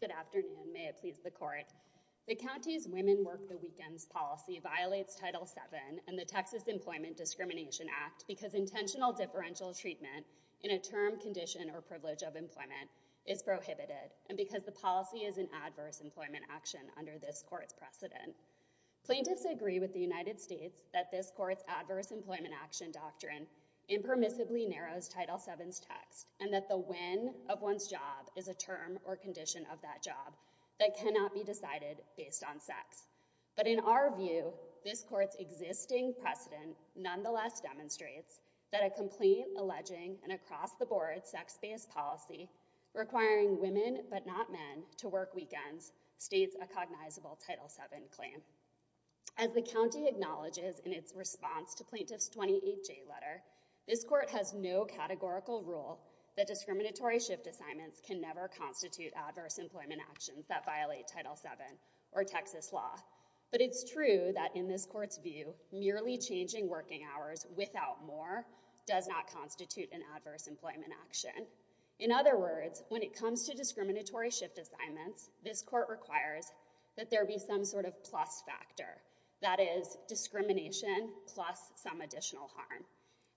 Good afternoon. May it please the court. The county's Women Work the Weekends policy violates Title VII and the Texas Employment Discrimination Act because intentional differential treatment in a term, condition, or privilege of employment is prohibited, and because the policy is an action under this court's precedent. Plaintiffs agree with the United States that this court's adverse employment action doctrine impermissibly narrows Title VII's text and that the when of one's job is a term or condition of that job that cannot be decided based on sex. But in our view, this court's existing precedent nonetheless demonstrates that a complaint alleging an across-the-board sex-based policy requiring women but not men to work weekends states a cognizable Title VII claim. As the county acknowledges in its response to Plaintiff's 28J letter, this court has no categorical rule that discriminatory shift assignments can never constitute adverse employment actions that violate Title VII or Texas law. But it's true that in this court's view, merely changing working hours without more does not constitute an adverse employment action. In other words, when it comes to discriminatory shift assignments, this court requires that there be some sort of plus factor. That is, discrimination plus some additional harm.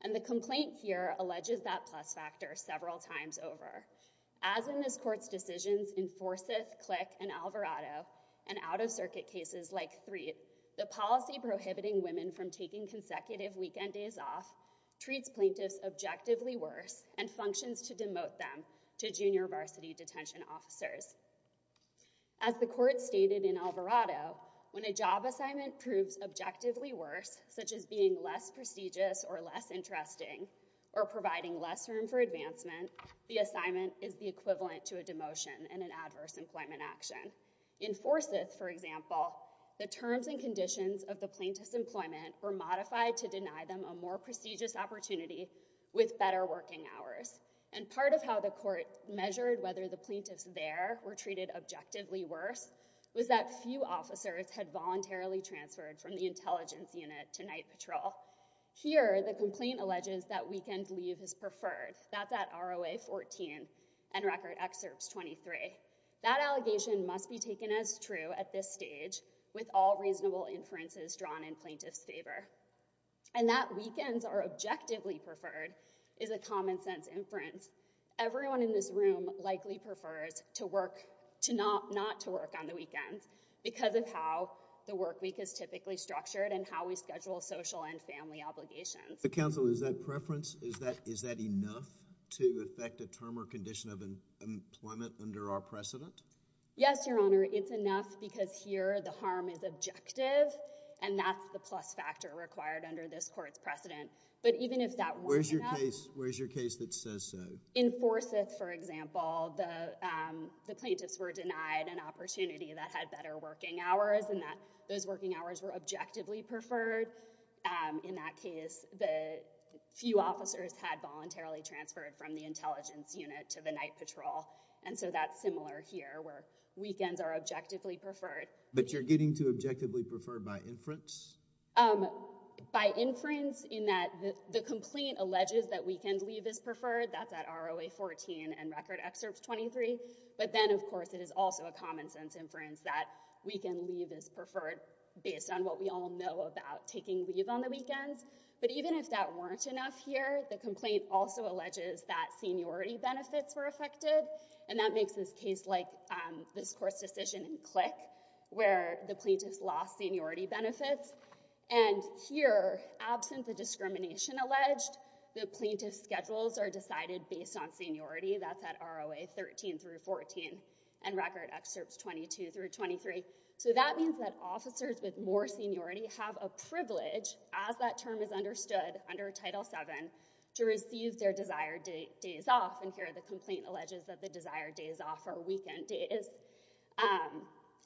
And the complaint here alleges that plus factor several times over. As in this court's decisions in Forsyth, Click, and Alvarado, and out-of-circuit cases like Threat, the policy prohibiting women from taking consecutive weekend days off treats plaintiffs objectively worse and functions to demote them to junior varsity detention officers. As the court stated in Alvarado, when a job assignment proves objectively worse, such as being less prestigious or less interesting, or providing less room for advancement, the assignment is the equivalent to a demotion and an adverse employment action. In Forsyth, for example, the terms and conditions of the plaintiff's employment were modified to deny them a more prestigious opportunity with better working hours. And part of how the court measured whether the plaintiffs there were treated objectively worse was that few officers had voluntarily transferred from the intelligence unit to night patrol. Here, the complaint alleges that weekend leave is preferred. That's at ROA 14 and Record Excerpts 23. That allegation must be taken as true at this stage with all reasonable inferences drawn in plaintiff's favor. And that weekends are objectively preferred is a common-sense inference. Everyone in this room likely prefers not to work on the weekends because of how the work week is typically structured and how we schedule social and family obligations. But counsel, is that preference, is that enough to affect a term or condition of employment under our precedent? Yes, Your Honor. It's enough because here, the harm is objective. And that's the plus factor required under this court's precedent. But even if that weren't enough- Where's your case that says so? In Forsyth, for example, the plaintiffs were denied an opportunity that had better working hours and that those working hours were objectively preferred. In that case, the few officers had voluntarily transferred from the intelligence unit to the night patrol. And so that's similar here where weekends are objectively preferred. But you're getting to objectively preferred by inference? By inference in that the complaint alleges that weekend leave is preferred. That's at ROA 14 and Record Excerpts 23. But then, of course, it is also a common-sense inference that weekend leave is preferred based on what we all know about taking leave on the weekends. But even if that weren't enough here, the complaint also alleges that seniority benefits were affected. And that makes this case like this court's decision in Click where the plaintiffs lost seniority benefits. And here, absent the discrimination alleged, the plaintiff's schedules are decided based on seniority. That's at ROA 13 through 14 and Record Excerpts 22 through 23. So that means that officers with more seniority have a privilege, as that desired day is off. And here, the complaint alleges that the desired day is off, or weekend day is.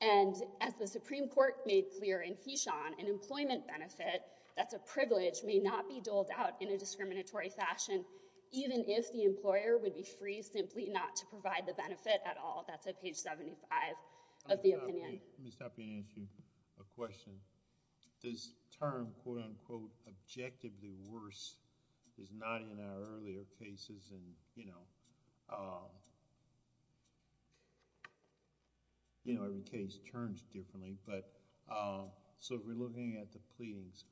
And as the Supreme Court made clear in Heshaun, an employment benefit that's a privilege may not be doled out in a discriminatory fashion, even if the employer would be free simply not to provide the benefit at all. That's at page 75 of the opinion. Let me stop you and ask you a question. Does term, quote unquote, objectively worse, as with other cases and, you know, every case turns differently, but... so if we're looking at the pleadings,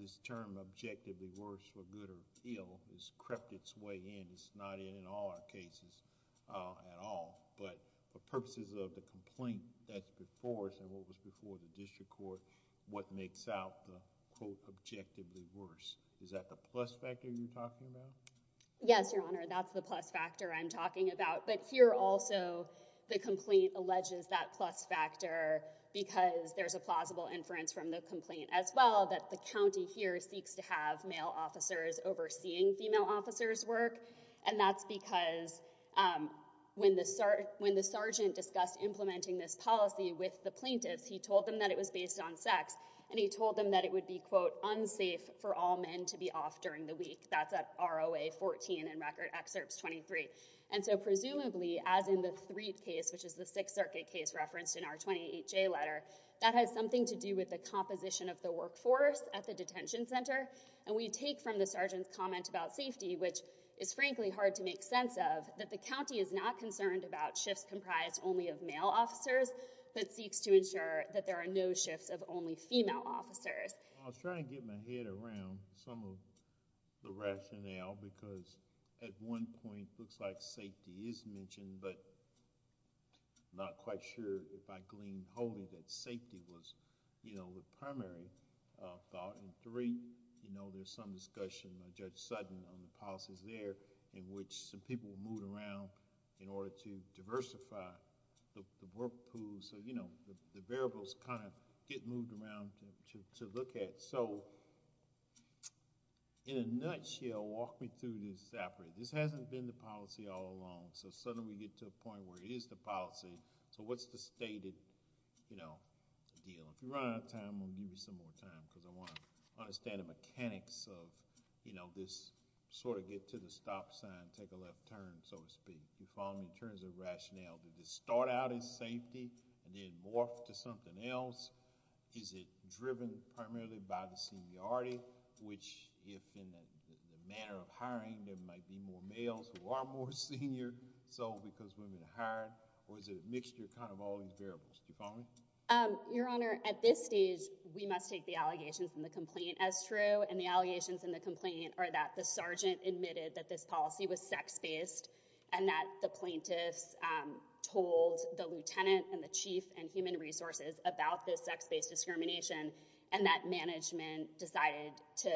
this term, objectively worse for good or ill, has crept its way in. It's not in all our cases at all. But for purposes of the complaint that's before us and what was before the district court, what makes out the, quote, objectively worse? Is that the plus factor you're talking about? Yes, Your Honor. That's the plus factor I'm talking about. But here also, the complaint alleges that plus factor because there's a plausible inference from the complaint as well that the county here seeks to have male officers overseeing female officers' work. And that's because when the sergeant discussed implementing this policy with the plaintiffs, he told them that it was based on sex. And he told them that it would be, quote, unsafe for all men to be off during the week. That's at ROA 14 and Record Excerpts 23. And so presumably, as in the Threed case, which is the Sixth Circuit case referenced in our 28J letter, that has something to do with the composition of the workforce at the detention center. And we take from the sergeant's comment about safety, which is frankly hard to make sense of, that the county is not concerned about shifts comprised only of male officers, but seeks to ensure that there are no shifts of only female officers. I was trying to get my head around some of the rationale because at one point, it looks like safety is mentioned, but I'm not quite sure if I gleaned wholly that safety was the primary thought. And three, there's some discussion by Judge Sutton on the policies there in which some people were moved around in order to look at. So in a nutshell, walk me through this. This hasn't been the policy all along. So suddenly, we get to a point where it is the policy. So what's the stated deal? If you run out of time, I'm going to give you some more time because I want to understand the mechanics of this sort of get to the stop sign, take a left turn, so to speak. If you follow me in terms of rationale, did it start out as safety and then morph to something else? Is it driven primarily by the seniority, which if in the manner of hiring, there might be more males who are more senior because women are hired? Or is it a mixture of all these variables? Do you follow me? Your Honor, at this stage, we must take the allegations in the complaint as true. And the allegations in the complaint are that the sergeant admitted that this policy was sex-based and that the plaintiffs told the sex-based discrimination and that management decided to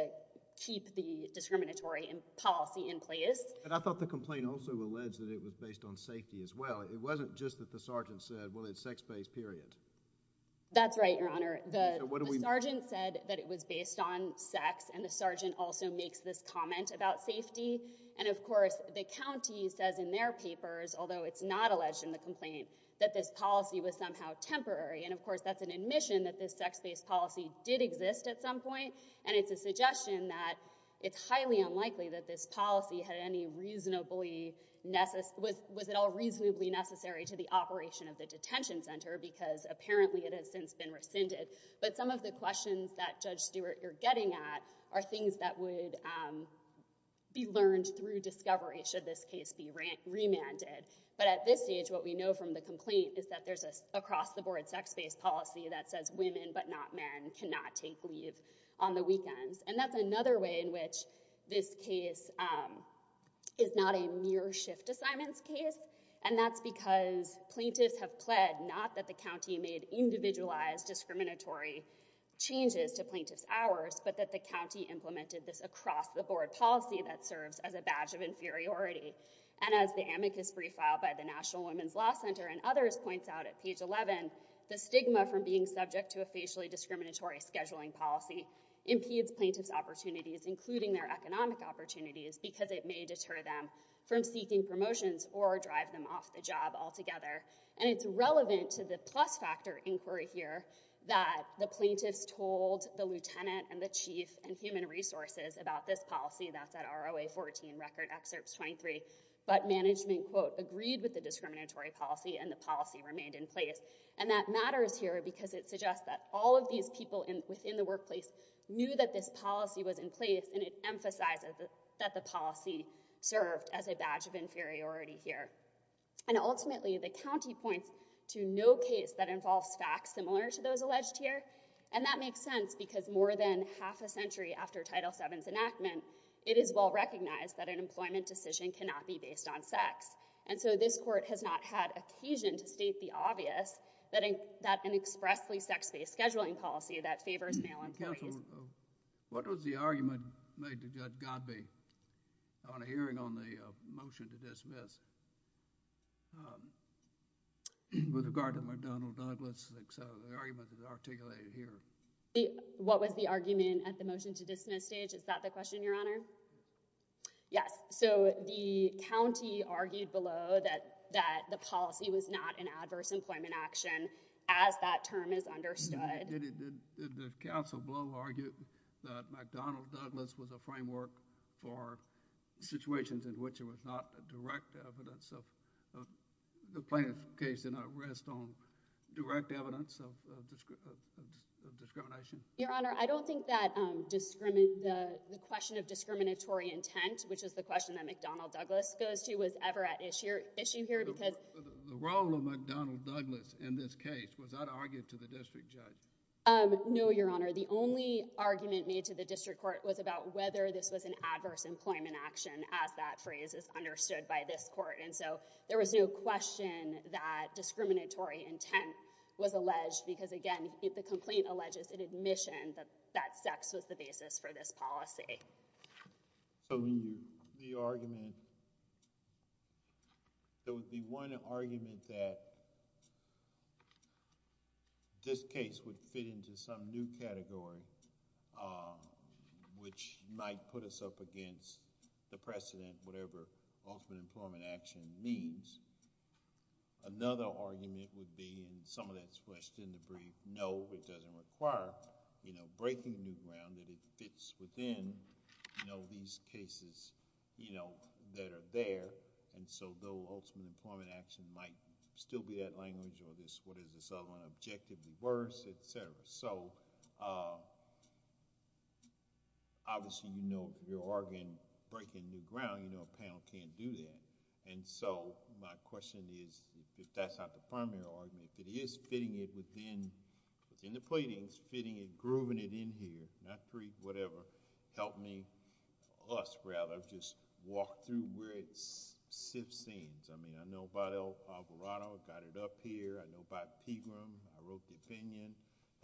keep the discriminatory policy in place. And I thought the complaint also alleged that it was based on safety as well. It wasn't just that the sergeant said, well, it's sex-based, period. That's right, Your Honor. The sergeant said that it was based on sex and the sergeant also makes this comment about safety. And of course, the county says in their papers, although it's not alleged in the complaint, that this policy was somehow temporary. And of course, that's an admission that this sex-based policy did exist at some point. And it's a suggestion that it's highly unlikely that this policy had any reasonably necessary to the operation of the detention center because apparently it has since been rescinded. But some of the questions that Judge Stewart, you're getting at are things that would be learned through discovery should this case be remanded. But at this stage, what we know from the complaint is that there's an across-the-board sex-based policy that says women but not men cannot take leave on the weekends. And that's another way in which this case is not a near-shift assignments case. And that's because plaintiffs have pled not that the county made individualized discriminatory changes to plaintiffs' hours, but that the county implemented this across-the-board policy that serves as a badge of inferiority. And as the amicus brief filed by the National Women's Law Center and others points out at page 11, the stigma from being subject to a facially discriminatory scheduling policy impedes plaintiffs' opportunities, including their economic opportunities, because it may deter them from seeking promotions or drive them off the job altogether. And it's relevant to the plus-factor inquiry here that the plaintiffs told the lieutenant and the chief and human resources about this policy. That's at ROA14 Record Excerpts 23. But management, quote, agreed with the discriminatory policy, and the policy remained in place. And that matters here, because it suggests that all of these people within the workplace knew that this policy was in place, and it emphasizes that the policy served as a badge of inferiority here. And ultimately, the county points to no case that involves facts similar to those alleged here. And that makes sense, because more than half a century after Title VII's enactment, it is well-recognized that an employment decision cannot be based on sex. And so this court has not had occasion to state the obvious that an expressly sex-based scheduling policy that favors male employees— What was the argument made to Judge Godbee on a hearing on the motion to dismiss with regard to McDonnell Douglas? The argument is articulated here. What was the argument at the motion-to-dismiss stage? Is that the question, Your Honor? Yes. So the county argued below that the policy was not an adverse employment action, as that term is understood. Did the counsel below argue that McDonnell Douglas was a framework for situations in which there was not a direct evidence of—the plaintiff's case did not rest on direct evidence of discrimination? Your Honor, I don't think that the question of discriminatory intent, which is the question that McDonnell Douglas goes to, was ever at issue here, because— The role of McDonnell Douglas in this case, was that argued to the district judge? No, Your Honor. The only argument made to the district court was about whether this was an adverse employment action, as that phrase is understood by this court. And so there was no question that discriminatory intent was alleged, because, again, the complaint alleges an admission that sex was the basis for this policy. Okay. So the argument, there would be one argument that this case would fit into some new category, which might put us up against the precedent, whatever ultimate employment action means. Another argument would be, and some of that's these cases that are there, and so the ultimate employment action might still be that language, or what is this other one, objectively worse, etc. So, obviously, you know, you're arguing breaking new ground. A panel can't do that. And so, my question is, if that's not the primary argument, if it is fitting it within the platings, fitting it, grooving it in here, not pre, whatever, help me, us, rather, just walk through where it sits in. I mean, I know about Alvarado, got it up here. I know about Pegram. I wrote the opinion.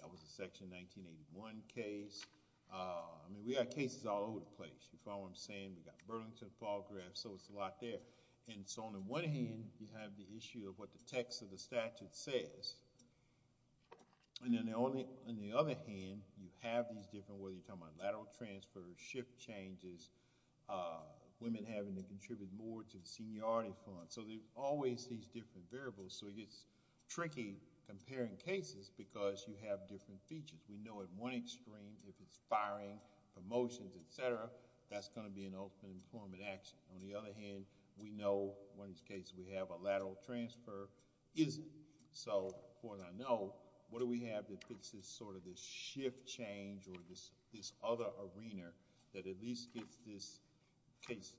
That was a Section 1981 case. I mean, we got cases all over the place. You follow what I'm saying? We got Burlington, Falgraaf, so it's a lot there. And so, on the one hand, you have the issue of what the text of the statute says. And then, on the other hand, you have these different, whether you're talking about lateral transfer, shift changes, women having to contribute more to the seniority fund. So, there's always these different variables. So, it gets tricky comparing cases because you have different features. We know at one extreme, if it's firing, promotions, etc., that's going to be an ultimate employment action. On the other hand, we know, in one of these cases, we have transfer isn't. So, as far as I know, what do we have that fixes this shift change or this other arena that at least gets this case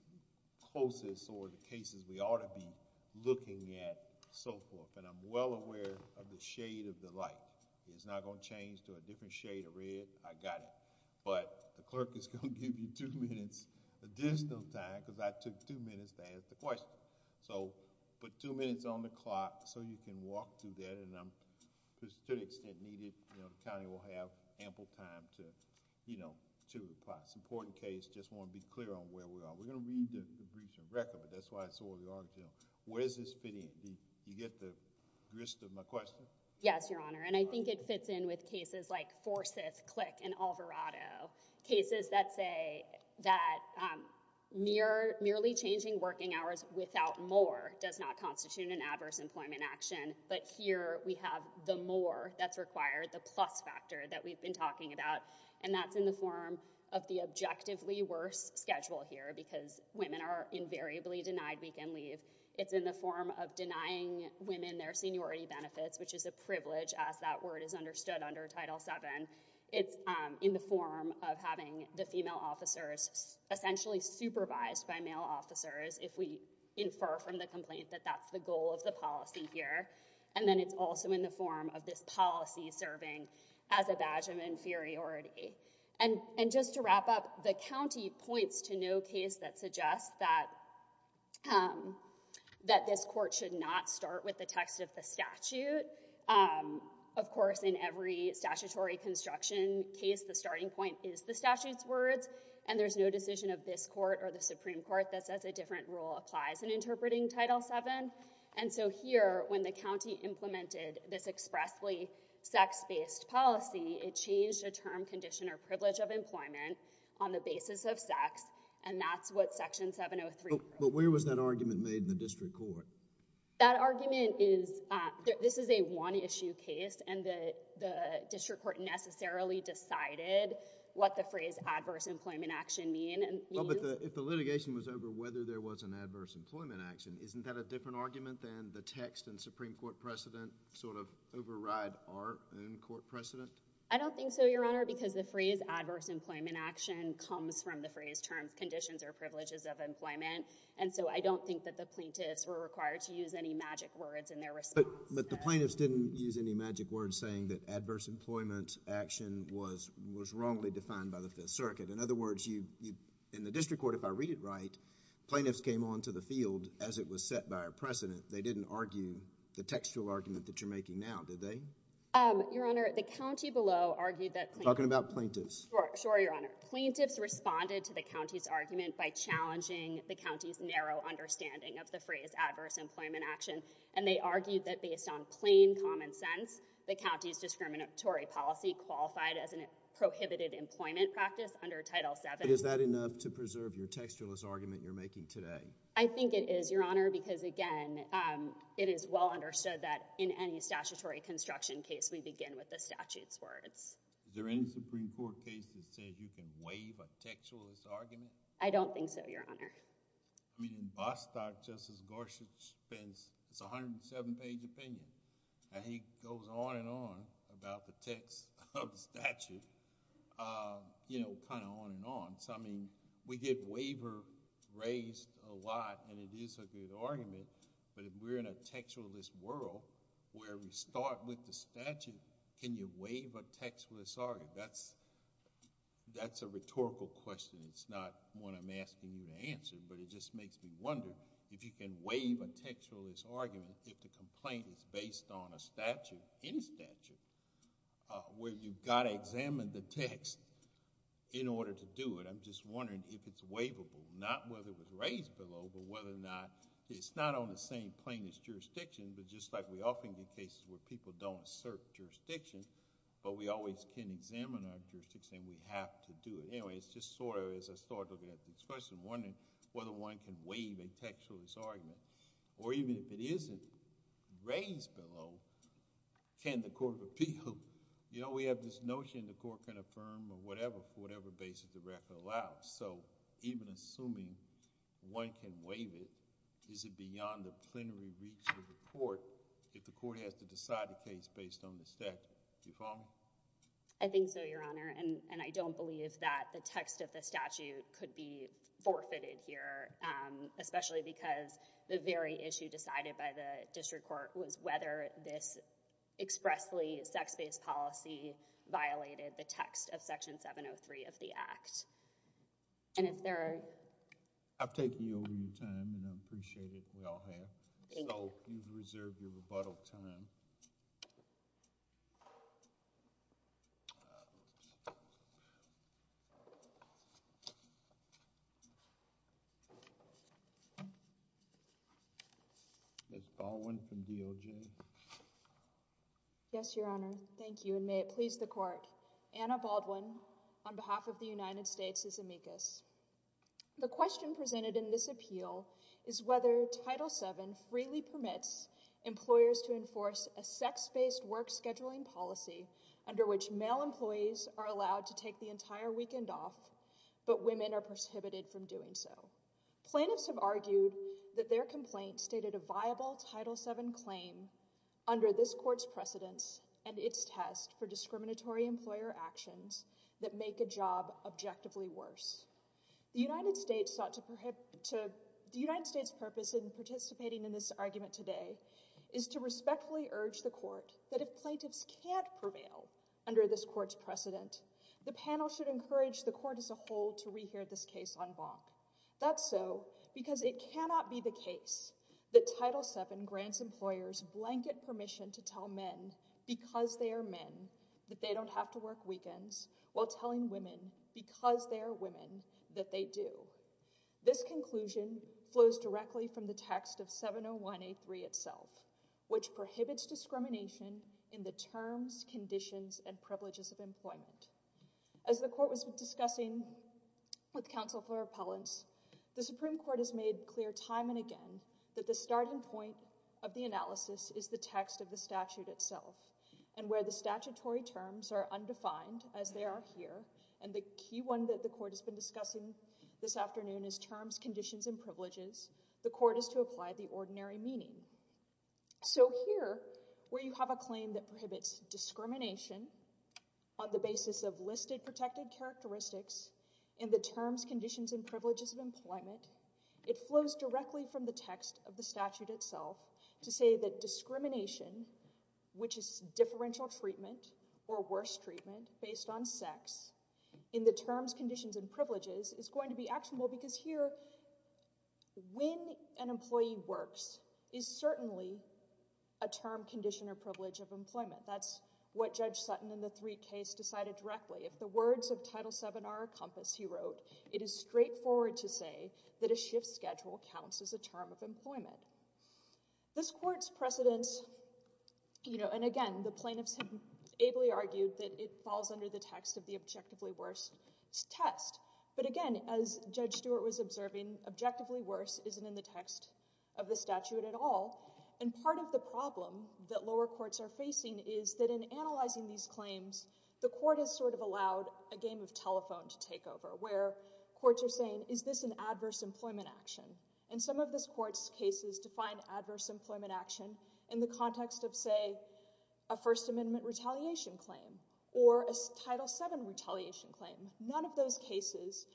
closest or the cases we ought to be looking at, so forth. And I'm well aware of the shade of the light. It's not going to change to a different shade of red. I got it. But the clerk is going to give you two minutes additional time because I took two minutes to ask the question. So, put two minutes on the clock so you can walk through that. And I'm, to the extent needed, you know, the county will have ample time to, you know, to reply. It's an important case. I just want to be clear on where we are. We're going to read the briefs and record, but that's why I saw the audience. Where does this fit in? Do you get the gist of my question? Yes, Your Honor. And I think it fits in with cases like Forsyth, Click, and Alvarado, cases that say that merely changing working hours without more does not constitute an adverse employment action. But here we have the more that's required, the plus factor that we've been talking about. And that's in the form of the objectively worse schedule here because women are invariably denied weekend leave. It's in the form of denying women their seniority benefits, which is a privilege as that word is understood under Title VII. It's in the form of having the female officers essentially supervised by male officers if we infer from the complaint that that's the goal of the policy here. And then it's also in the form of this policy serving as a badge of inferiority. And just to wrap up, the county points to no case that suggests that this court should not start with the text of the statute. Of course, in every statutory construction case, the starting point is the statute's words, and there's no decision of this court or the Supreme Court that says a different rule applies in interpreting Title VII. And so here, when the county implemented this expressly sex-based policy, it changed a term, condition, or privilege of employment. That argument is, this is a one-issue case, and the district court necessarily decided what the phrase adverse employment action means. Well, but if the litigation was over whether there was an adverse employment action, isn't that a different argument than the text and Supreme Court precedent sort of override our own court precedent? I don't think so, Your Honor, because the phrase adverse employment action comes from the phrase terms, conditions, or privileges of employment. I don't think that the plaintiffs were required to use any magic words in their response. But the plaintiffs didn't use any magic words saying that adverse employment action was wrongly defined by the Fifth Circuit. In other words, in the district court, if I read it right, plaintiffs came onto the field as it was set by our precedent. They didn't argue the textual argument that you're making now, did they? Your Honor, the county below argued that— Talking about plaintiffs. Sure, Your Honor. Plaintiffs responded to the county's argument by challenging the county's narrow understanding of the phrase adverse employment action, and they argued that based on plain common sense, the county's discriminatory policy qualified as a prohibited employment practice under Title VII. Is that enough to preserve your textualist argument you're making today? I think it is, Your Honor, because again, it is well understood that in any statutory construction case, we begin with the statute's words. Is there any Supreme Court case that says you can waive a textualist argument? I don't think so, Your Honor. I mean, in Bostock, Justice Gorsuch spends—it's a 107-page opinion, and he goes on and on about the text of the statute, you know, kind of on and on. So, I mean, we get waiver raised a lot, and it is a good argument, but if we're in a textualist world where we start with the statute, can you waive a textualist argument? That's a rhetorical question. It's not one I'm asking you to answer, but it just makes me wonder if you can waive a textualist argument if the complaint is based on a statute, any statute, where you've got to examine the text in order to do it. I'm just wondering if it's waivable, not whether it was raised below, but whether or not... it's not on the same plane as jurisdiction, but just like we often get cases where people don't assert jurisdiction, but we always can examine our jurisdiction, and we have to do it. Anyway, it's just sort of, as I start looking at this question, wondering whether one can waive a textualist argument, or even if it isn't raised below, can the court appeal? You know, we have this notion the court can affirm or whatever, for whatever basis the record allows. So, even assuming one can waive it, is it beyond the plenary reach of the court if the court has to decide a case based on the statute? Do you follow me? I think so, Your Honor, and I don't believe that the text of the statute could be forfeited here, especially because the very issue decided by the district court was whether this expressly sex-based policy violated the text of Section 703 of the Act. And if there are... I'm taking over your time, and I appreciate it. We all have. So, you've reserved your rebuttal time. Ms. Baldwin from DOJ. Yes, Your Honor. Thank you, and may it please the court. Anna Baldwin, on behalf of the United States Department of Labor. The question presented in this appeal is whether Title VII freely permits employers to enforce a sex-based work scheduling policy under which male employees are allowed to take the entire weekend off, but women are prohibited from doing so. Plaintiffs have argued that their complaint stated a viable Title VII claim under this court's precedence and its test for discriminatory employer actions that make a job objectively worse. The United States sought to prohibit... the United States' purpose in participating in this argument today is to respectfully urge the court that if plaintiffs can't prevail under this court's precedent, the panel should encourage the court as a whole to rehear this case en banc. That's so because it cannot be the case that Title VII grants employers blanket permission to tell men because they are men that they don't have to work weekends while telling women because they are women that they do. This conclusion flows directly from the text of 701A3 itself, which prohibits discrimination in the terms, conditions, and privileges of employment. As the court was discussing with counsel for appellants, the Supreme Court has made clear time and again that the starting point of the analysis is the text of the statute itself, and where the statutory terms are undefined, as they are here, and the key one that the court has been discussing this afternoon is terms, conditions, and privileges, the court is to apply the ordinary meaning. So here, where you have a claim that prohibits discrimination on the basis of listed protected characteristics in the terms, conditions, and privileges of employment, it flows directly from the text of the statute itself to say that discrimination, which is differential treatment or worse treatment based on sex, in the terms, conditions, and privileges is going to be actionable because here, when an employee works is certainly a term, condition, or privilege of Title VII are encompassed, he wrote, it is straightforward to say that a shift schedule counts as a term of employment. This court's precedence, you know, and again, the plaintiffs ably argued that it falls under the text of the objectively worse test, but again, as Judge Stewart was observing, objectively worse isn't in the text of the statute at all, and part of the problem that lower courts are facing is that in analyzing these claims, the court has sort of allowed a game of telephone to take over, where courts are saying, is this an adverse employment action, and some of this court's cases define adverse employment action in the context of, say, a First Amendment retaliation claim or a Title VII retaliation claim. None of those cases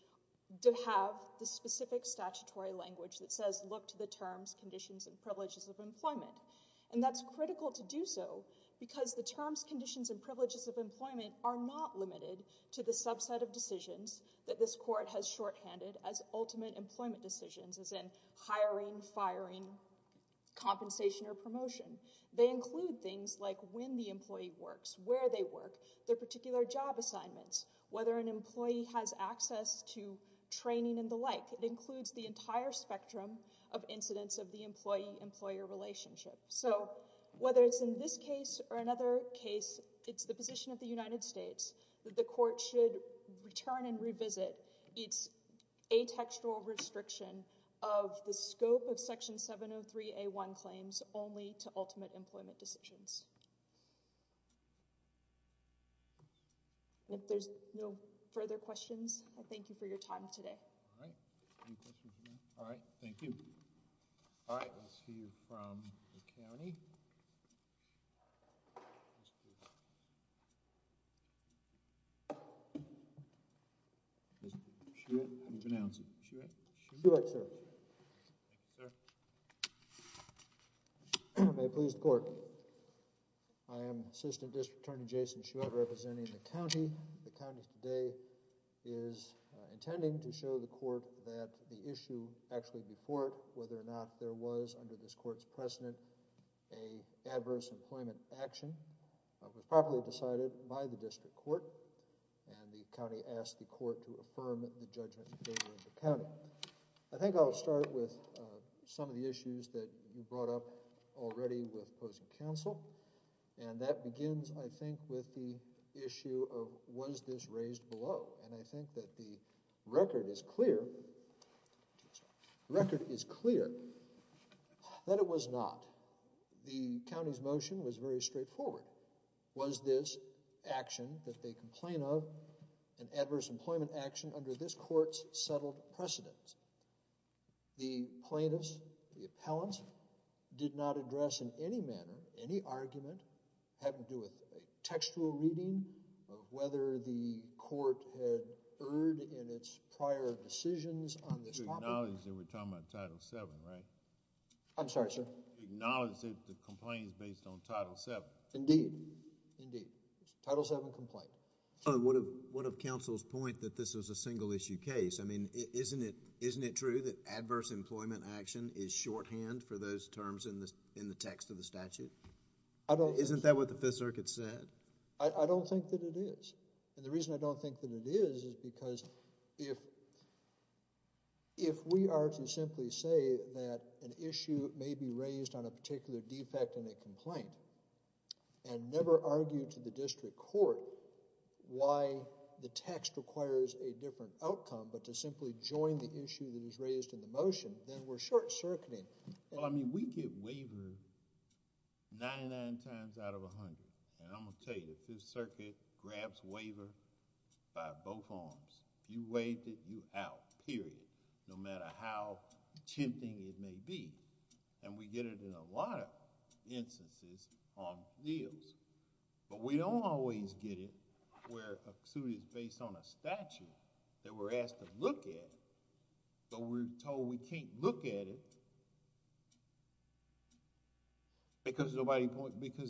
do have the specific statutory language that says, look to the terms, conditions, and privileges of employment, and that's critical to do so because the terms, conditions, and privileges of employment are not limited to the subset of decisions that this court has shorthanded as ultimate employment decisions, as in hiring, firing, compensation, or promotion. They include things like when the employee works, where they work, their particular job assignments, whether an employee has access to training and like. It includes the entire spectrum of incidents of the employee-employer relationship. So whether it's in this case or another case, it's the position of the United States that the court should return and revisit its atextual restriction of the scope of Section 703a1 claims only to ultimate employment decisions. If there's no further questions, I thank you for your time today. Any questions? All right, thank you. All right, we'll see you from the county. May it please the court. I am Assistant District Attorney Jason Shouette representing the county. The county today is intending to show the court that the issue actually before it, whether or not there was under this court's precedent, a adverse employment action was properly decided by the district court, and the county asked the court to affirm the judgment in favor of the county. I think I'll start with some of the issues that you brought up already with opposing counsel, and that begins, I think, with the issue of was this raised below, and I think that the record is clear. The record is clear that it was not. The county's motion was very straightforward. Was this action that they complain of an adverse employment action under this court's settled precedent? The plaintiffs, the appellants, did not address in any manner any argument having to do with a textual reading of whether the court had erred in its prior decisions on this topic. Acknowledge that we're talking about Title VII, right? I'm sorry, sir. Acknowledge that the complaint is based on Title VII. Indeed. Indeed. Title VII complaint. What of counsel's point that this was a single issue case? I mean, isn't it true that adverse employment action is shorthand for those terms in the text of the statute? Isn't that what the Fifth Circuit said? I don't think that it is, and the reason I don't think that it is, is because if we are to simply say that an issue may be raised on a particular defect in a complaint, and never argue to the why the text requires a different outcome, but to simply join the issue that is raised in the motion, then we're short-circuiting. Well, I mean, we get waivered 99 times out of 100, and I'm going to tell you, the Fifth Circuit grabs waiver by both arms. You waived it, you're out, period, no matter how tempting it may be, and we don't always get it where a suit is based on a statute that we're asked to look at, but we're told we can't look at it because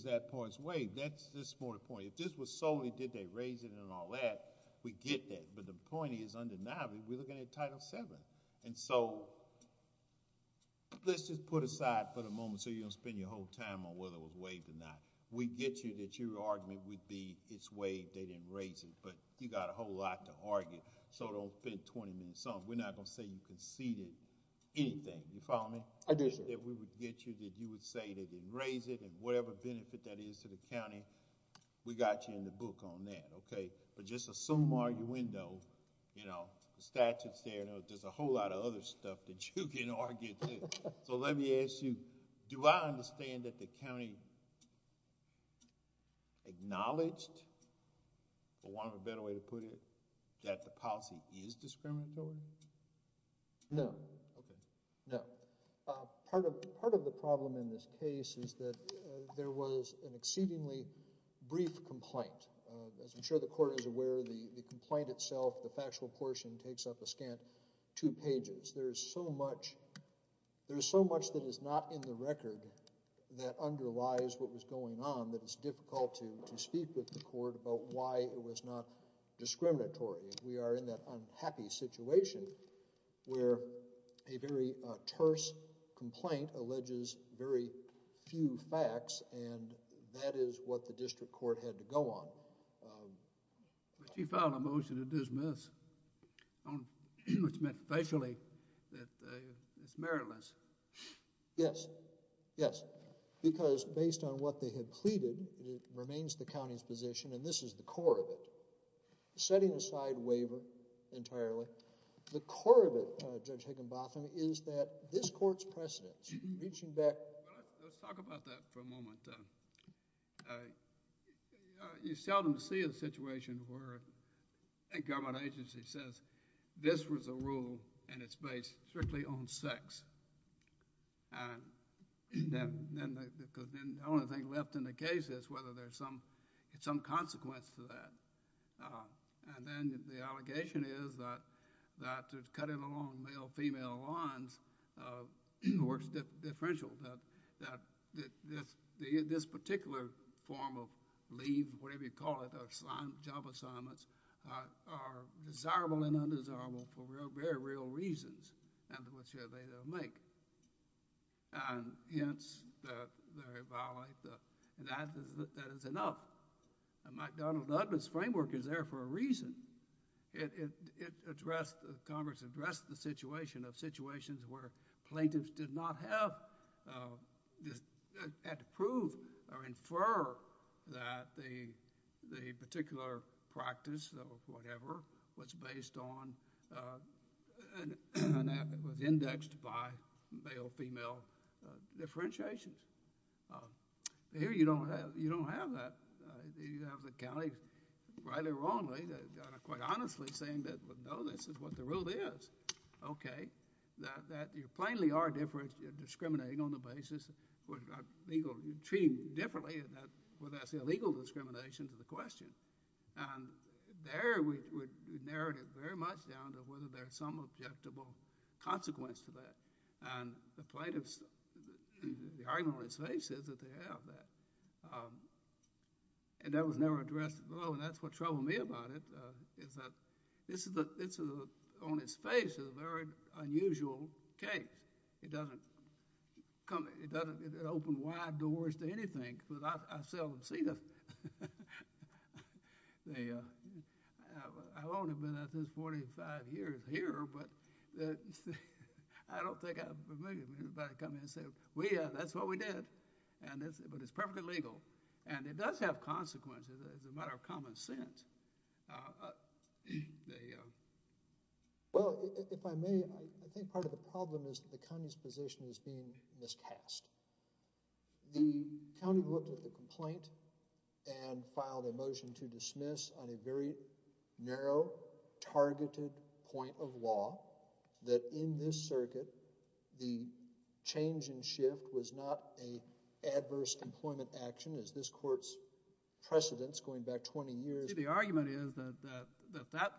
that point's waived. That's more the point. If this was solely did they raise it and all that, we get that, but the point is undeniably we're looking at Title VII, and so let's just put aside for the moment so you don't spend your whole time on whether it would be it's waived, they didn't raise it, but you got a whole lot to argue, so don't spend 20 minutes on it. We're not going to say you conceded anything. You follow me? I do, sir. If we would get you that you would say they didn't raise it, and whatever benefit that is to the county, we got you in the book on that, okay? But just assume arguendo, you know, the statute's there. There's a whole lot of other stuff that you can argue, too. So let me ask you, do I understand that the county acknowledged, for want of a better way to put it, that the policy is discriminatory? No. Okay. No. Part of the problem in this case is that there was an exceedingly brief complaint. As I'm sure the court is aware, the complaint itself, the factual portion, takes up a scant two pages. There's so much, there's so much that is not in the record that underlies what was going on that it's difficult to to speak with the court about why it was not discriminatory. We are in that unhappy situation where a very terse complaint alleges very few facts, and that is what the district court had to go on. But you filed a motion to dismiss, which meant facially that it's meritless. Yes. Yes. Because based on what they had pleaded, it remains the county's position, and this is the core of it. Setting aside waiver entirely, the core of it, Judge Higginbotham, is that this court's precedents, reaching back... Let's talk about that for a moment. You seldom see a situation where a government agency says this was a rule and it's based strictly on sex. And then the only thing left in the case is whether there's some consequence to that. And then the allegation is that cutting along male-female lines works differentially, that this particular form of leave, whatever you call it, or job assignments, are desirable and undesirable for very real reasons, and which they don't make. And hence, they violate that, and that is enough. And McDonnell-Dudman's framework is there for a reason. It addressed, Congress addressed the situation of situations where plaintiffs did not have... had to prove or infer that the particular practice, or whatever, was based on... was indexed by male-female differentiations. Here, you don't have that. You have the county, rightly or wrongly, quite honestly, saying that, well, no, this is what the rule is. Okay, that you plainly are discriminating on the basis of legal... you're treating differently, and that would ask illegal discrimination to the question. And there, we narrowed it very much down to whether there's some objectable consequence to that. And the plaintiffs, the argument on its face is that they have that. And that was never addressed at all, and that's what troubled me about it, is that this is, on its face, a very unusual case. It doesn't come... it doesn't... it opened wide doors to anything, but I seldom see them. I've only been at this 45 years here, but I don't think I'm familiar with everybody coming and saying, well, yeah, that's what we did, and it's... but it's perfectly legal, and it does have consequences as a matter of common sense. They... Well, if I may, I think part of the problem is that the county's position is being miscast. The county looked at the complaint and filed a motion to dismiss on a very narrow, targeted point of law that, in this circuit, the change in shift was not a adverse employment action, as this court's precedents, going back 20 years... The argument is that that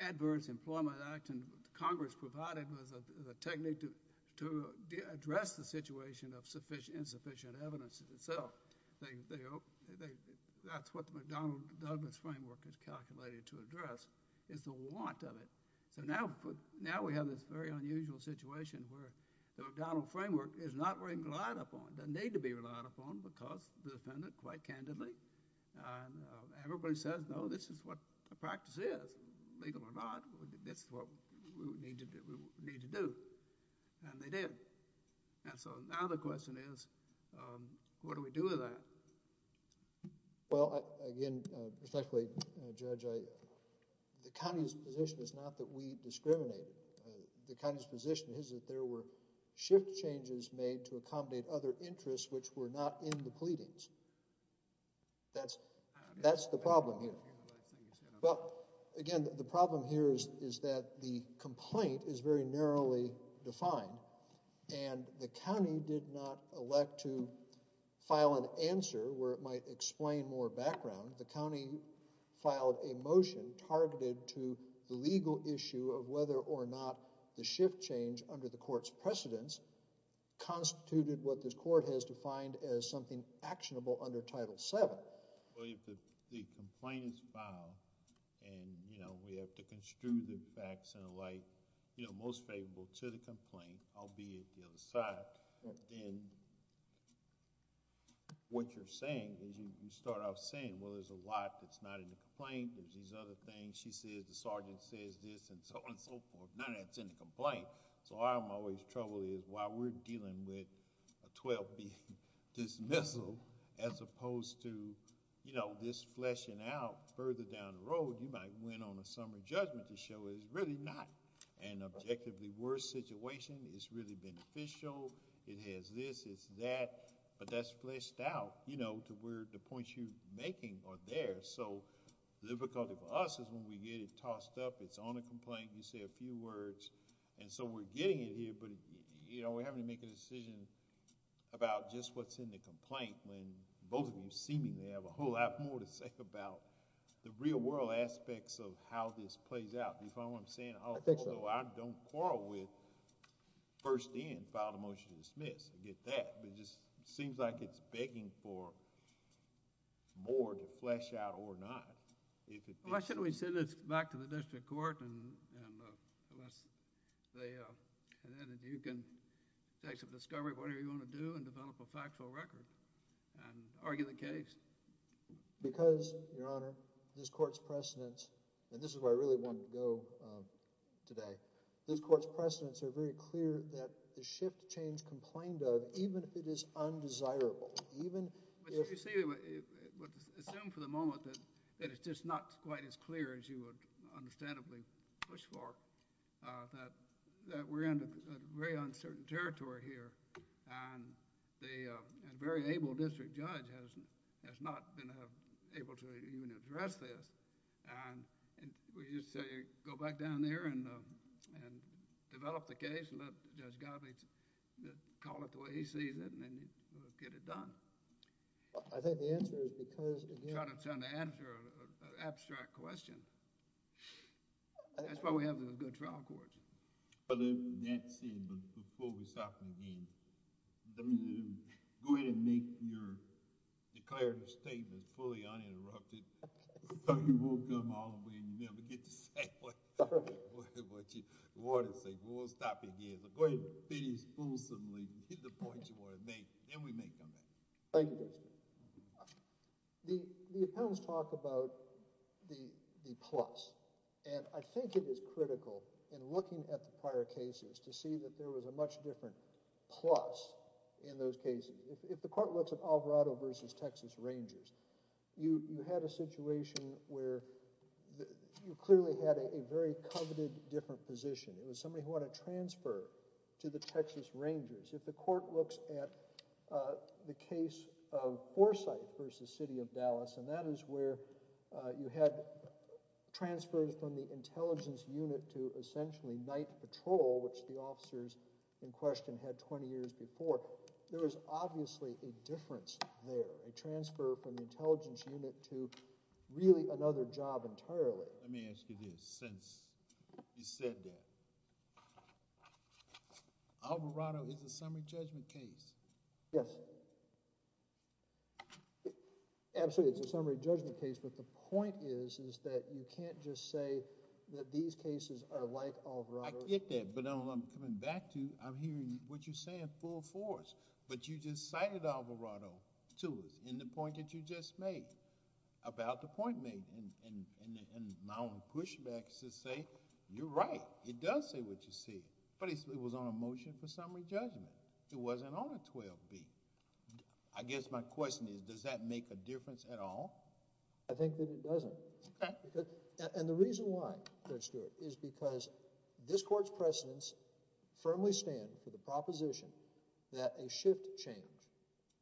adverse employment action Congress provided was a technique to address the situation of insufficient evidence itself. That's what the McDonnell-Douglas framework is calculated to address, is the want of it. So now we have this very unusual situation where the McDonnell framework is not relied upon, doesn't need to be relied upon, because the defendant, quite candidly, and everybody says, no, this is what the practice is, legal or not, this is what we need to do, and they did. And so now the question is, what do we do with that? Well, again, respectfully, Judge, the county's position is not that we shift changes made to accommodate other interests which were not in the pleadings. That's the problem here. Well, again, the problem here is that the complaint is very narrowly defined, and the county did not elect to file an answer where it might explain more background. The county filed a motion targeted to the legal issue of whether or not the shift change under the court's precedence constituted what this court has defined as something actionable under Title VII. Well, if the complaint is filed and, you know, we have to construe the facts and the like, you know, most favorable to the complaint, albeit the other side, then what you're saying is you start off saying, well, there's a lot that's not in the complaint, there's these other things, she says, the sergeant says this, and so on and so forth, none of that's in the complaint. So our always trouble is while we're dealing with a 12B dismissal as opposed to, you know, this fleshing out further down the road, you might win on a summary judgment to show it's really not an objectively worse situation, it's really beneficial, it has this, it's that, but that's fleshed out, you know, to where the points you're making are there. So the difficulty for us is when we get it tossed up, it's on a complaint, you say a few words, and so we're getting it here, but, you know, we're having to make a decision about just what's in the complaint when both of you seemingly have a whole lot more to say about the real world aspects of how this plays out. Do you follow what I'm saying? I think so. Although I don't quarrel with first in, file the motion to dismiss, I get that, but it just seems like it's begging for more to flesh out or not. Why shouldn't we send this back to the district court and let's say that you can take some discovery of whatever you want to do and develop a factual record and argue the case? Because, Your Honor, this court's precedents, and this is where I really want to go today, this court's precedents are very clear that the shift change complained of, even if it is undesirable, even if— But you see, assume for the moment that it's just not quite as clear as you would understandably push for, that we're in a very uncertain territory here, and a very able district judge has not been able to even address this, and we just say go back down there and develop the case and then get it done. I think the answer is because, again— I'm trying to answer an abstract question. That's why we have the good trial courts. That said, before we stop again, go ahead and make your declared statement fully uninterrupted so you won't come all the way and never get to say what you want to say, but we'll stop again. Go ahead and be displeasantly, hit the points you want to make, then we may come back. Thank you. The appellants talk about the plus, and I think it is critical in looking at the prior cases to see that there was a much different plus in those cases. If the court looks at Alvarado versus Texas Rangers, you had a situation where you clearly had a very coveted different position. It was somebody who had a transfer to the Texas Rangers. If the court looks at the case of Foresight versus City of Dallas, and that is where you had transfers from the intelligence unit to essentially night patrol, which the officers in question had 20 years before, there was obviously a difference there, a transfer from the intelligence unit to really another job entirely. Let me ask you this, since you said that, Alvarado is a summary judgment case? Yes. Absolutely, it's a summary judgment case, but the point is that you can't just say that these cases are like Alvarado's. I get that, but I'm coming back to, I'm hearing what you're saying full force, but you just made, about the point made, and my own pushback is to say, you're right. It does say what you see, but it was on a motion for summary judgment. It wasn't on a 12B. I guess my question is, does that make a difference at all? I think that it doesn't, and the reason why, Judge Stewart, is because this court's precedents firmly stand for the proposition that a shift change,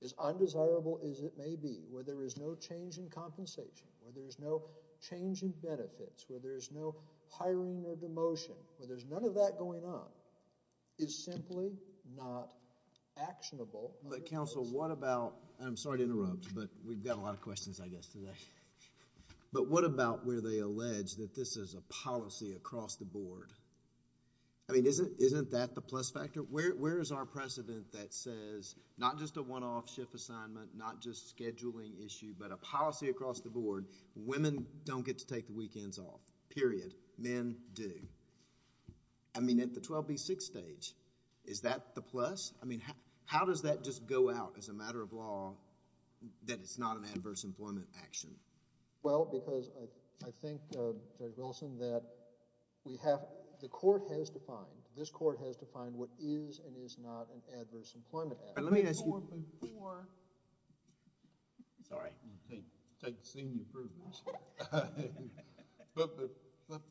as undesirable as it may be, where there is no change in compensation, where there is no change in benefits, where there is no hiring or demotion, where there's none of that going on, is simply not actionable. But counsel, what about, and I'm sorry to interrupt, but we've got a lot of questions I guess today, but what about where they allege that this is a policy across the board? I mean, isn't that the plus factor? Where is our precedent that says, not just a one-off shift assignment, not just scheduling issue, but a policy across the board, women don't get to take the weekends off, period. Men do. I mean, at the 12B6 stage, is that the plus? I mean, how does that just go out as a matter of law that it's not an adverse employment action? Well, because I think, Judge Wilson, that we have, the court has defined, this court has defined what is and is not an adverse employment action. But let me ask you... Before, before... Sorry. I'm going to take senior approvals. But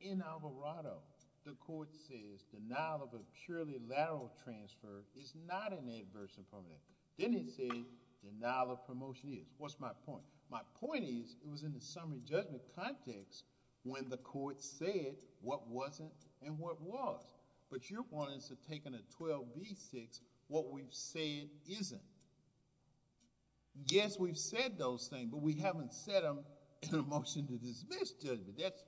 in Alvarado, the court says denial of a purely lateral transfer is not an adverse employment action. Then it says denial of promotion is. What's my point? My point is, it was in the summary judgment context when the court said what wasn't and what was. But you're wanting us to take in a 12B6 what we've said isn't. Yes, we've said those things, but we haven't said them in a motion to dismiss judgment. That's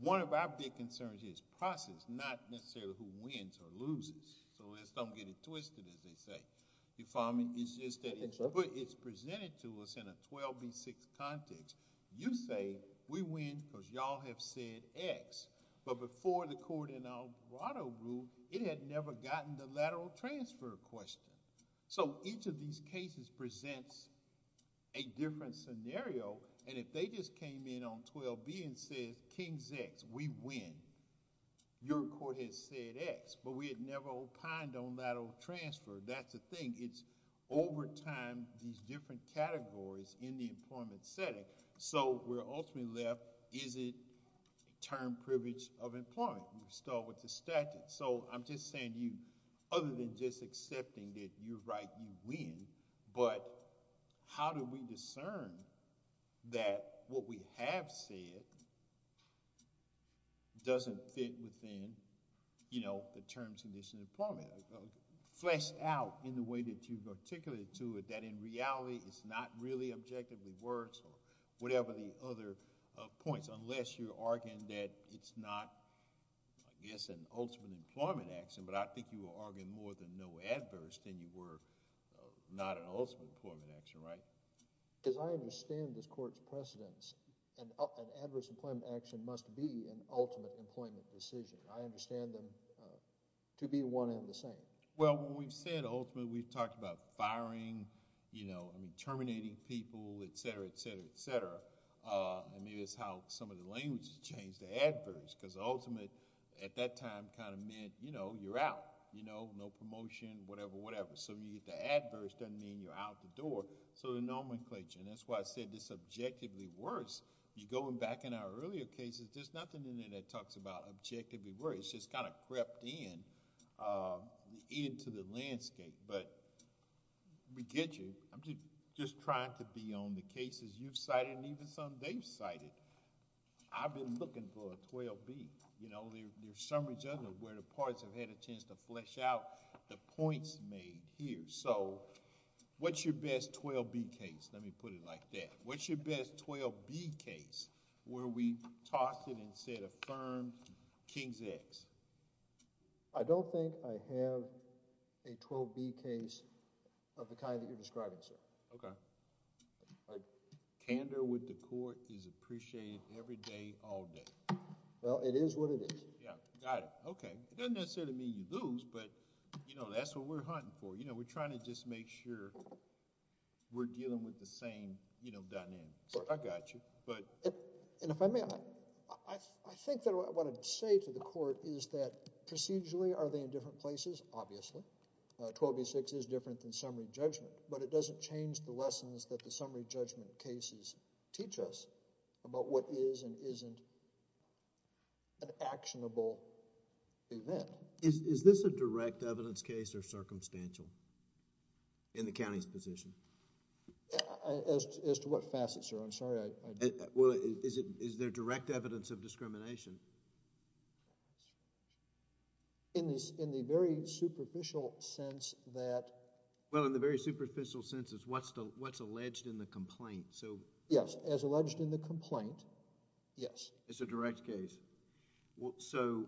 one of our big concerns is process, not necessarily who wins or loses. So let's don't get it twisted, as they say. You follow me? It's just that it's presented to us in a 12B6 context. You say we win because y'all have said X. But before the court in Alvarado ruled, it had never gotten the lateral transfer question. So each of these cases presents a different scenario. And if they just came in on 12B and said King's X, we win. Your court has said X, but we had never opined on lateral transfer. That's the thing. It's over time, these different categories in the employment setting. So we're ultimately left, is it term privilege of employment? We start with the statute. So I'm just saying to you, other than just accepting that you're right, you win. But how do we discern that what we have said doesn't fit within the terms and conditions of employment? Fleshed out in the way that you've articulated to it, that in reality, it's not really objectively worse or whatever the other points. Unless you're arguing that it's not, I guess, an ultimate employment action. But I think you were arguing more than no adverse than you were not an ultimate employment action, right? Because I understand this court's precedents. An adverse employment action must be an ultimate employment decision. I understand them to be one and the same. Well, when we've said ultimate, we've talked about firing, terminating people, et cetera, et cetera, et cetera. Maybe that's how some of the language has changed to adverse. Because ultimate, at that time, kind of meant you're out, no promotion, whatever, whatever. So when you get to adverse, doesn't mean you're out the door. So the nomenclature, and that's why I said it's objectively worse. You're going back in our earlier cases, there's nothing in there that talks about objectively worse. It's just kind of crept in. Into the landscape. But let me get you, I'm just trying to be on the cases you've cited and even some they've cited. I've been looking for a 12B. You know, there's some regions where the parties have had a chance to flesh out the points made here. So what's your best 12B case? Let me put it like that. What's your best 12B case where we tossed it and said affirmed King's X? I don't think I have a 12B case of the kind that you're describing, sir. Okay. Candor with the court is appreciated every day, all day. Well, it is what it is. Yeah. Got it. Okay. It doesn't necessarily mean you lose, but you know, that's what we're hunting for. You know, we're trying to just make sure we're dealing with the same, you know, dynamics. I got you. And if I may, I think that what I'd say to the court is that procedurally are they in different places? Obviously. 12B-6 is different than summary judgment, but it doesn't change the lessons that the summary judgment cases teach us about what is and isn't an actionable event. Is this a direct evidence case or circumstantial in the county's position? As to what facets, sir? Well, is there direct evidence of discrimination? In the very superficial sense that... Well, in the very superficial sense is what's alleged in the complaint, so... Yes. As alleged in the complaint, yes. It's a direct case. So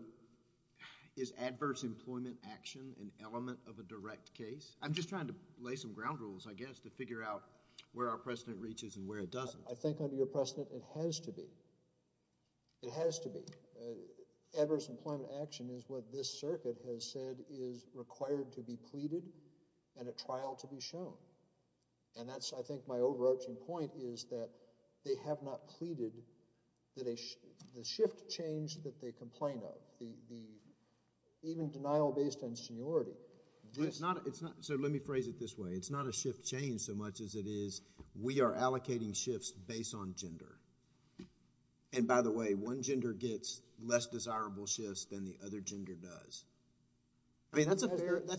is adverse employment action an element of a direct case? I'm just trying to lay some ground rules, I guess, to figure out where our precedent reaches and where it doesn't. I think under your precedent, it has to be. It has to be. Adverse employment action is what this circuit has said is required to be pleaded and a trial to be shown. And that's, I think, my overarching point is that they have not pleaded that the shift change that they complain of, the even denial based on seniority... So let me phrase it this way. It's not a shift change so much as it is we are allocating shifts based on gender. And by the way, one gender gets less desirable shifts than the other gender does. I mean, that's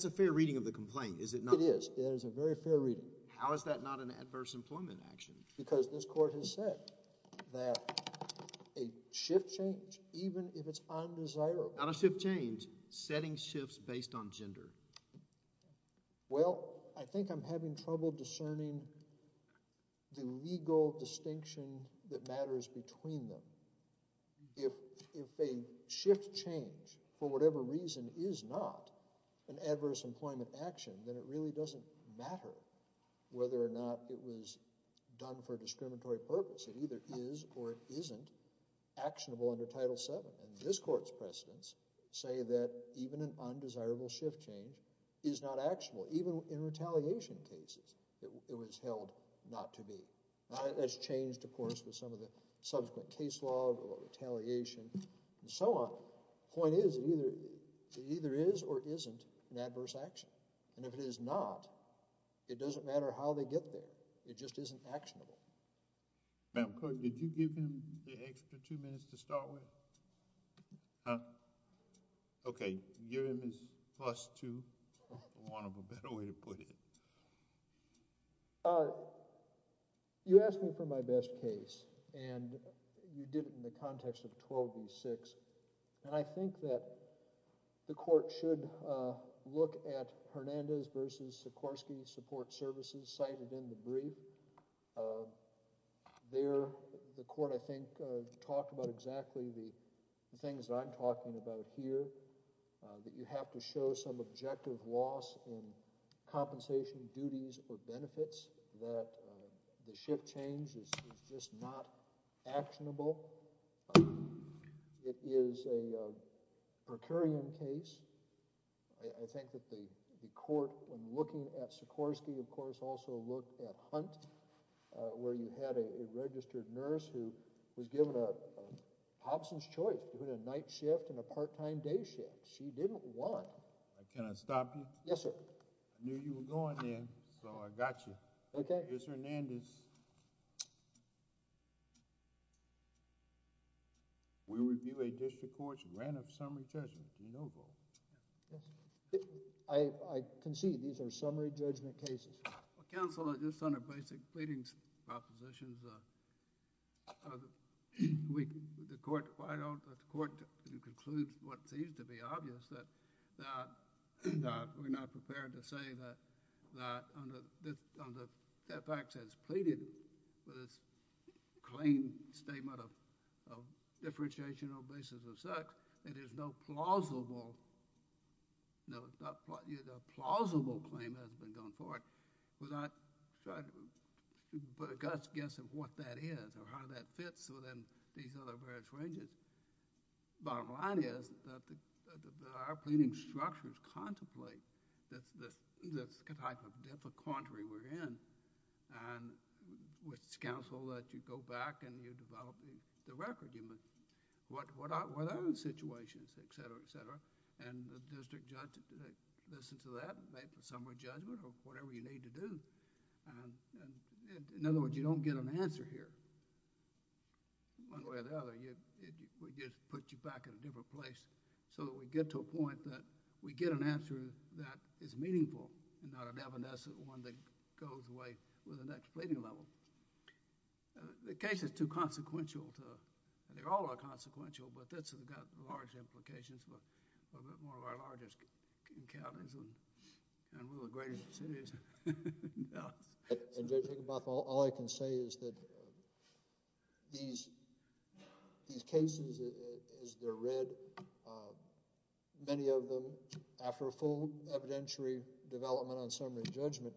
a fair reading of the complaint, is it not? It is. It is a very fair reading. How is that not an adverse employment action? Because this court has said that a shift change, even if it's undesirable... Not a shift change, setting shifts based on gender. Well, I think I'm having trouble discerning the legal distinction that matters between them. If a shift change, for whatever reason, is not an adverse employment action, then it really doesn't matter whether or not it was done for a discriminatory purpose. It either is or it isn't actionable under Title VII. And this court's precedents say that even an undesirable shift change is not actionable. Even in retaliation cases, it was held not to be. That's changed, of course, with some of the subsequent case law or retaliation and so on. Point is, it either is or isn't an adverse action. And if it is not, it doesn't matter how they get there. It just isn't actionable. Madam Court, did you give him the extra two minutes to start with? Okay. You gave him his plus two, for want of a better way to put it. You asked me for my best case. And you did it in the context of 12 v. 6. And I think that the court should look at Hernandez v. Sikorsky Support Services cited in the brief. There, the court, I think, talked about exactly the things I'm talking about here, that you have to show some objective loss in compensation duties or benefits, that the shift change is just not actionable. It is a per curiam case. I think that the court, when looking at Sikorsky, of course, also looked at Hunt, where you had a registered nurse who was given a Popson's choice between a night shift and a part-time day shift. She didn't want. Can I stop you? Yes, sir. I knew you were going there, so I got you. Okay. Here's Hernandez. We review a district court's grant of summary judgment. Do you know, though? Yes, I concede. These are summary judgment cases. Well, counsel, just on the basic pleadings propositions, the court, why don't the court conclude what seems to be obvious, that we're not prepared to say that on the fact that it's pleaded, but it's claimed statement of differentiation on the basis of sex, that there's no bottom line. We're not trying to put a guts guess of what that is or how that fits within these other various ranges. Bottom line is that our pleading structures contemplate the type of difficulty we're in, and which counsel that you go back and you develop the record. What are the situations, et cetera, et cetera, and the district judge listens to that, make a summary judgment or whatever you need to do. In other words, you don't get an answer here. One way or the other, it would just put you back in a different place so that we get to a point that we get an answer that is meaningful and not an evanescent one that goes away with the next pleading level. The case is too consequential. They all are consequential, but this has got large implications. A little bit more of our largest encounters in one of the greatest cities in Dallas. Judge Higginbotham, all I can say is that these cases, as they're read, many of them, after a full evidentiary development on summary judgment,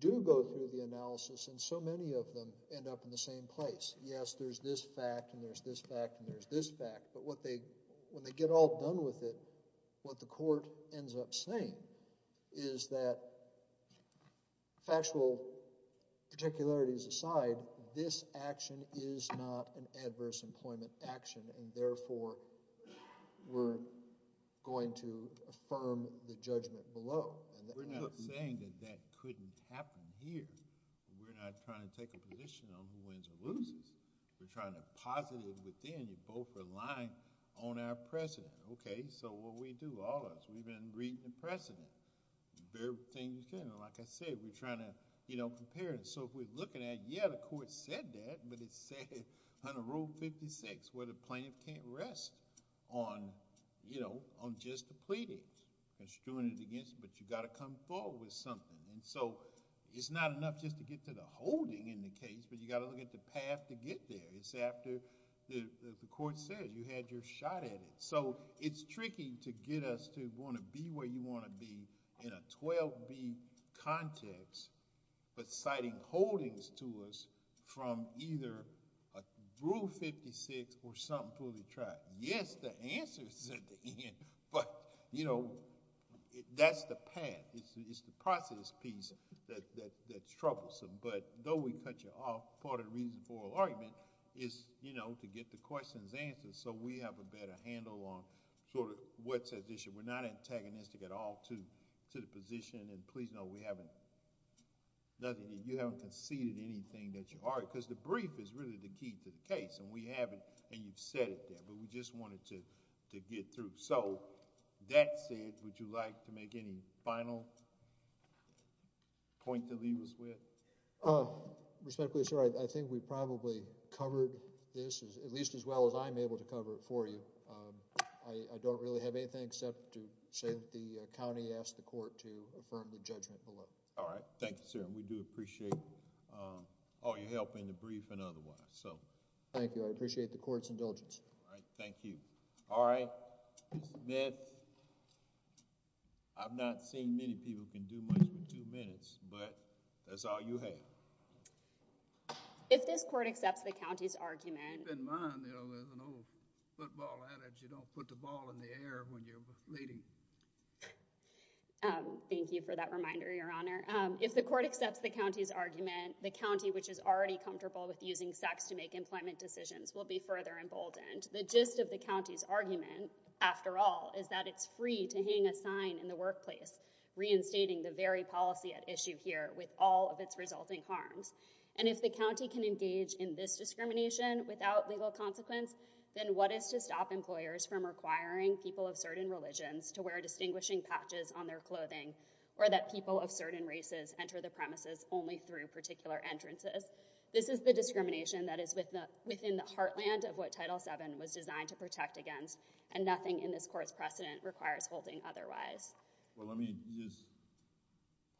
do go through the analysis, and so many of them end up in the same place. Yes, there's this fact, and there's this fact, and there's this fact, but when they get all done with it, what the court ends up saying is that factual particularities aside, this action is not an adverse employment action, and therefore, we're going to affirm the judgment below. We're not saying that that couldn't happen here. We're not trying to take a position on who wins or loses. We're trying to posit it within. You're both relying on our precedent. Okay, so what do we do? All of us, we've been reading the precedent, the very thing you can. Like I said, we're trying to compare it. If we're looking at, yeah, the court said that, but it said under Rule 56, where the plaintiff can't rest on just the pleading. It's doing it against, but you got to come forward with something. It's not enough just to get to the holding in the case, but you got to look at the path to get there. It's after the court says you had your shot at it. So it's tricky to get us to want to be where you want to be in a 12B context, but citing holdings to us from either a Rule 56 or something fully tracked. Yes, the answer is at the end, but that's the path. It's the process piece that's troublesome, but though we cut you off, part of the reason for argument is to get the questions answered, so we have a better handle on what's at issue. We're not antagonistic at all to the position. Please know we haven't... you haven't conceded anything that you are, because the brief is really the key to the case, and we haven't, and you've said it there, but we just wanted to get through. That said, would you like to make any final point to leave us with? Uh, respectfully, sir, I think we probably covered this, at least as well as I'm able to cover it for you. I don't really have anything except to say that the county asked the court to affirm the judgment below. All right. Thank you, sir. We do appreciate all your help in the brief and otherwise, so... Thank you. I appreciate the court's indulgence. All right. Thank you. All right, Mr. Smith, I've not seen many people can do much with two minutes, but that's all you have. If this court accepts the county's argument... Keep in mind, you know, there's an old football adage, you don't put the ball in the air when you're leading. Thank you for that reminder, Your Honor. If the court accepts the county's argument, the county, which is already comfortable with using sex to make employment decisions, will be further emboldened. The gist of the county's argument, after all, is that it's free to hang a sign in the workplace reinstating the very policy at issue here with all of its resulting harms. And if the county can engage in this discrimination without legal consequence, then what is to stop employers from requiring people of certain religions to wear distinguishing patches on their clothing or that people of certain races enter the premises only through particular entrances? This is the discrimination that is within the heartland of what Title VII was designed to protect against, and nothing in this court's precedent requires holding otherwise. Well, let me just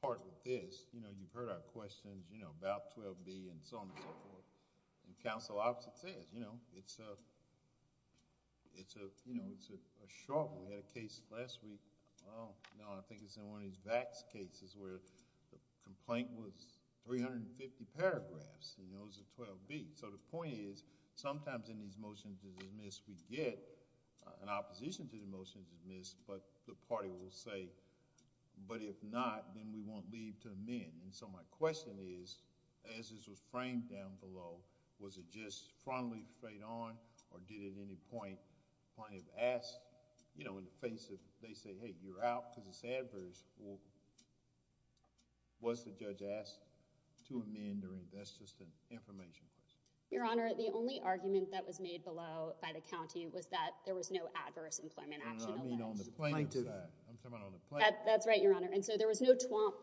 part with this, you know, you've heard our questions, you know, about 12B and so on and so forth, and counsel opposite says, you know, it's a, it's a, you know, it's a struggle. We had a case last week, well, no, I think it's in one of these VAX cases where the complaint was 350 paragraphs, and those are 12B. So the point is, sometimes in these motions to dismiss, we get an opposition to the motion to dismiss, but the party will say, but if not, then we won't leave to amend. And so my question is, as this was framed down below, was it just frontally frayed on, or did at any point, plaintiff asked, you know, in the face of, they say, hey, you're out because it's adverse, well, was the judge asked to amend or invest? That's just an information question. Your Honor, the only argument that was made below by the county was that there was no adverse employment action. I mean on the plaintiff side, I'm talking about on the plaintiff. That's right, Your Honor. And so there was no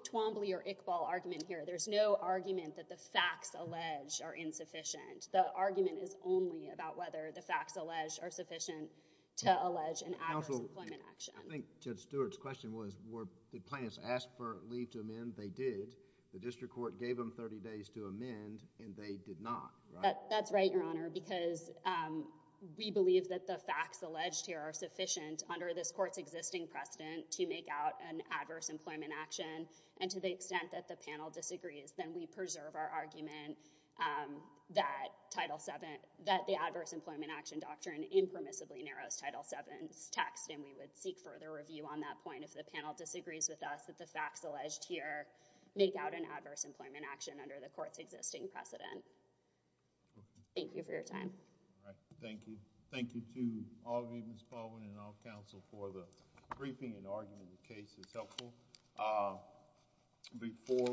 Twombly or Iqbal argument here. There's no argument that the facts alleged are insufficient. The argument is only about whether the facts alleged are sufficient to allege an adverse employment action. I think Judge Stewart's question was, were, did plaintiffs ask for leave to amend? They did. The district court gave them 30 days to amend, and they did not, right? That's right, Your Honor, because we believe that the facts alleged here are sufficient under this court's existing precedent to make out an adverse employment action. And to the extent that the panel disagrees, then we preserve our argument that Title VII, that the adverse employment action doctrine impermissibly narrows Title VII's text. And we would seek further review on that point if the panel disagrees with us that the facts alleged here make out an adverse employment action under the court's existing precedent. Thank you for your time. All right. Thank you. Thank you to all of you, Ms. Baldwin and all counsel, for the briefing and argument of the case. It's helpful. Before...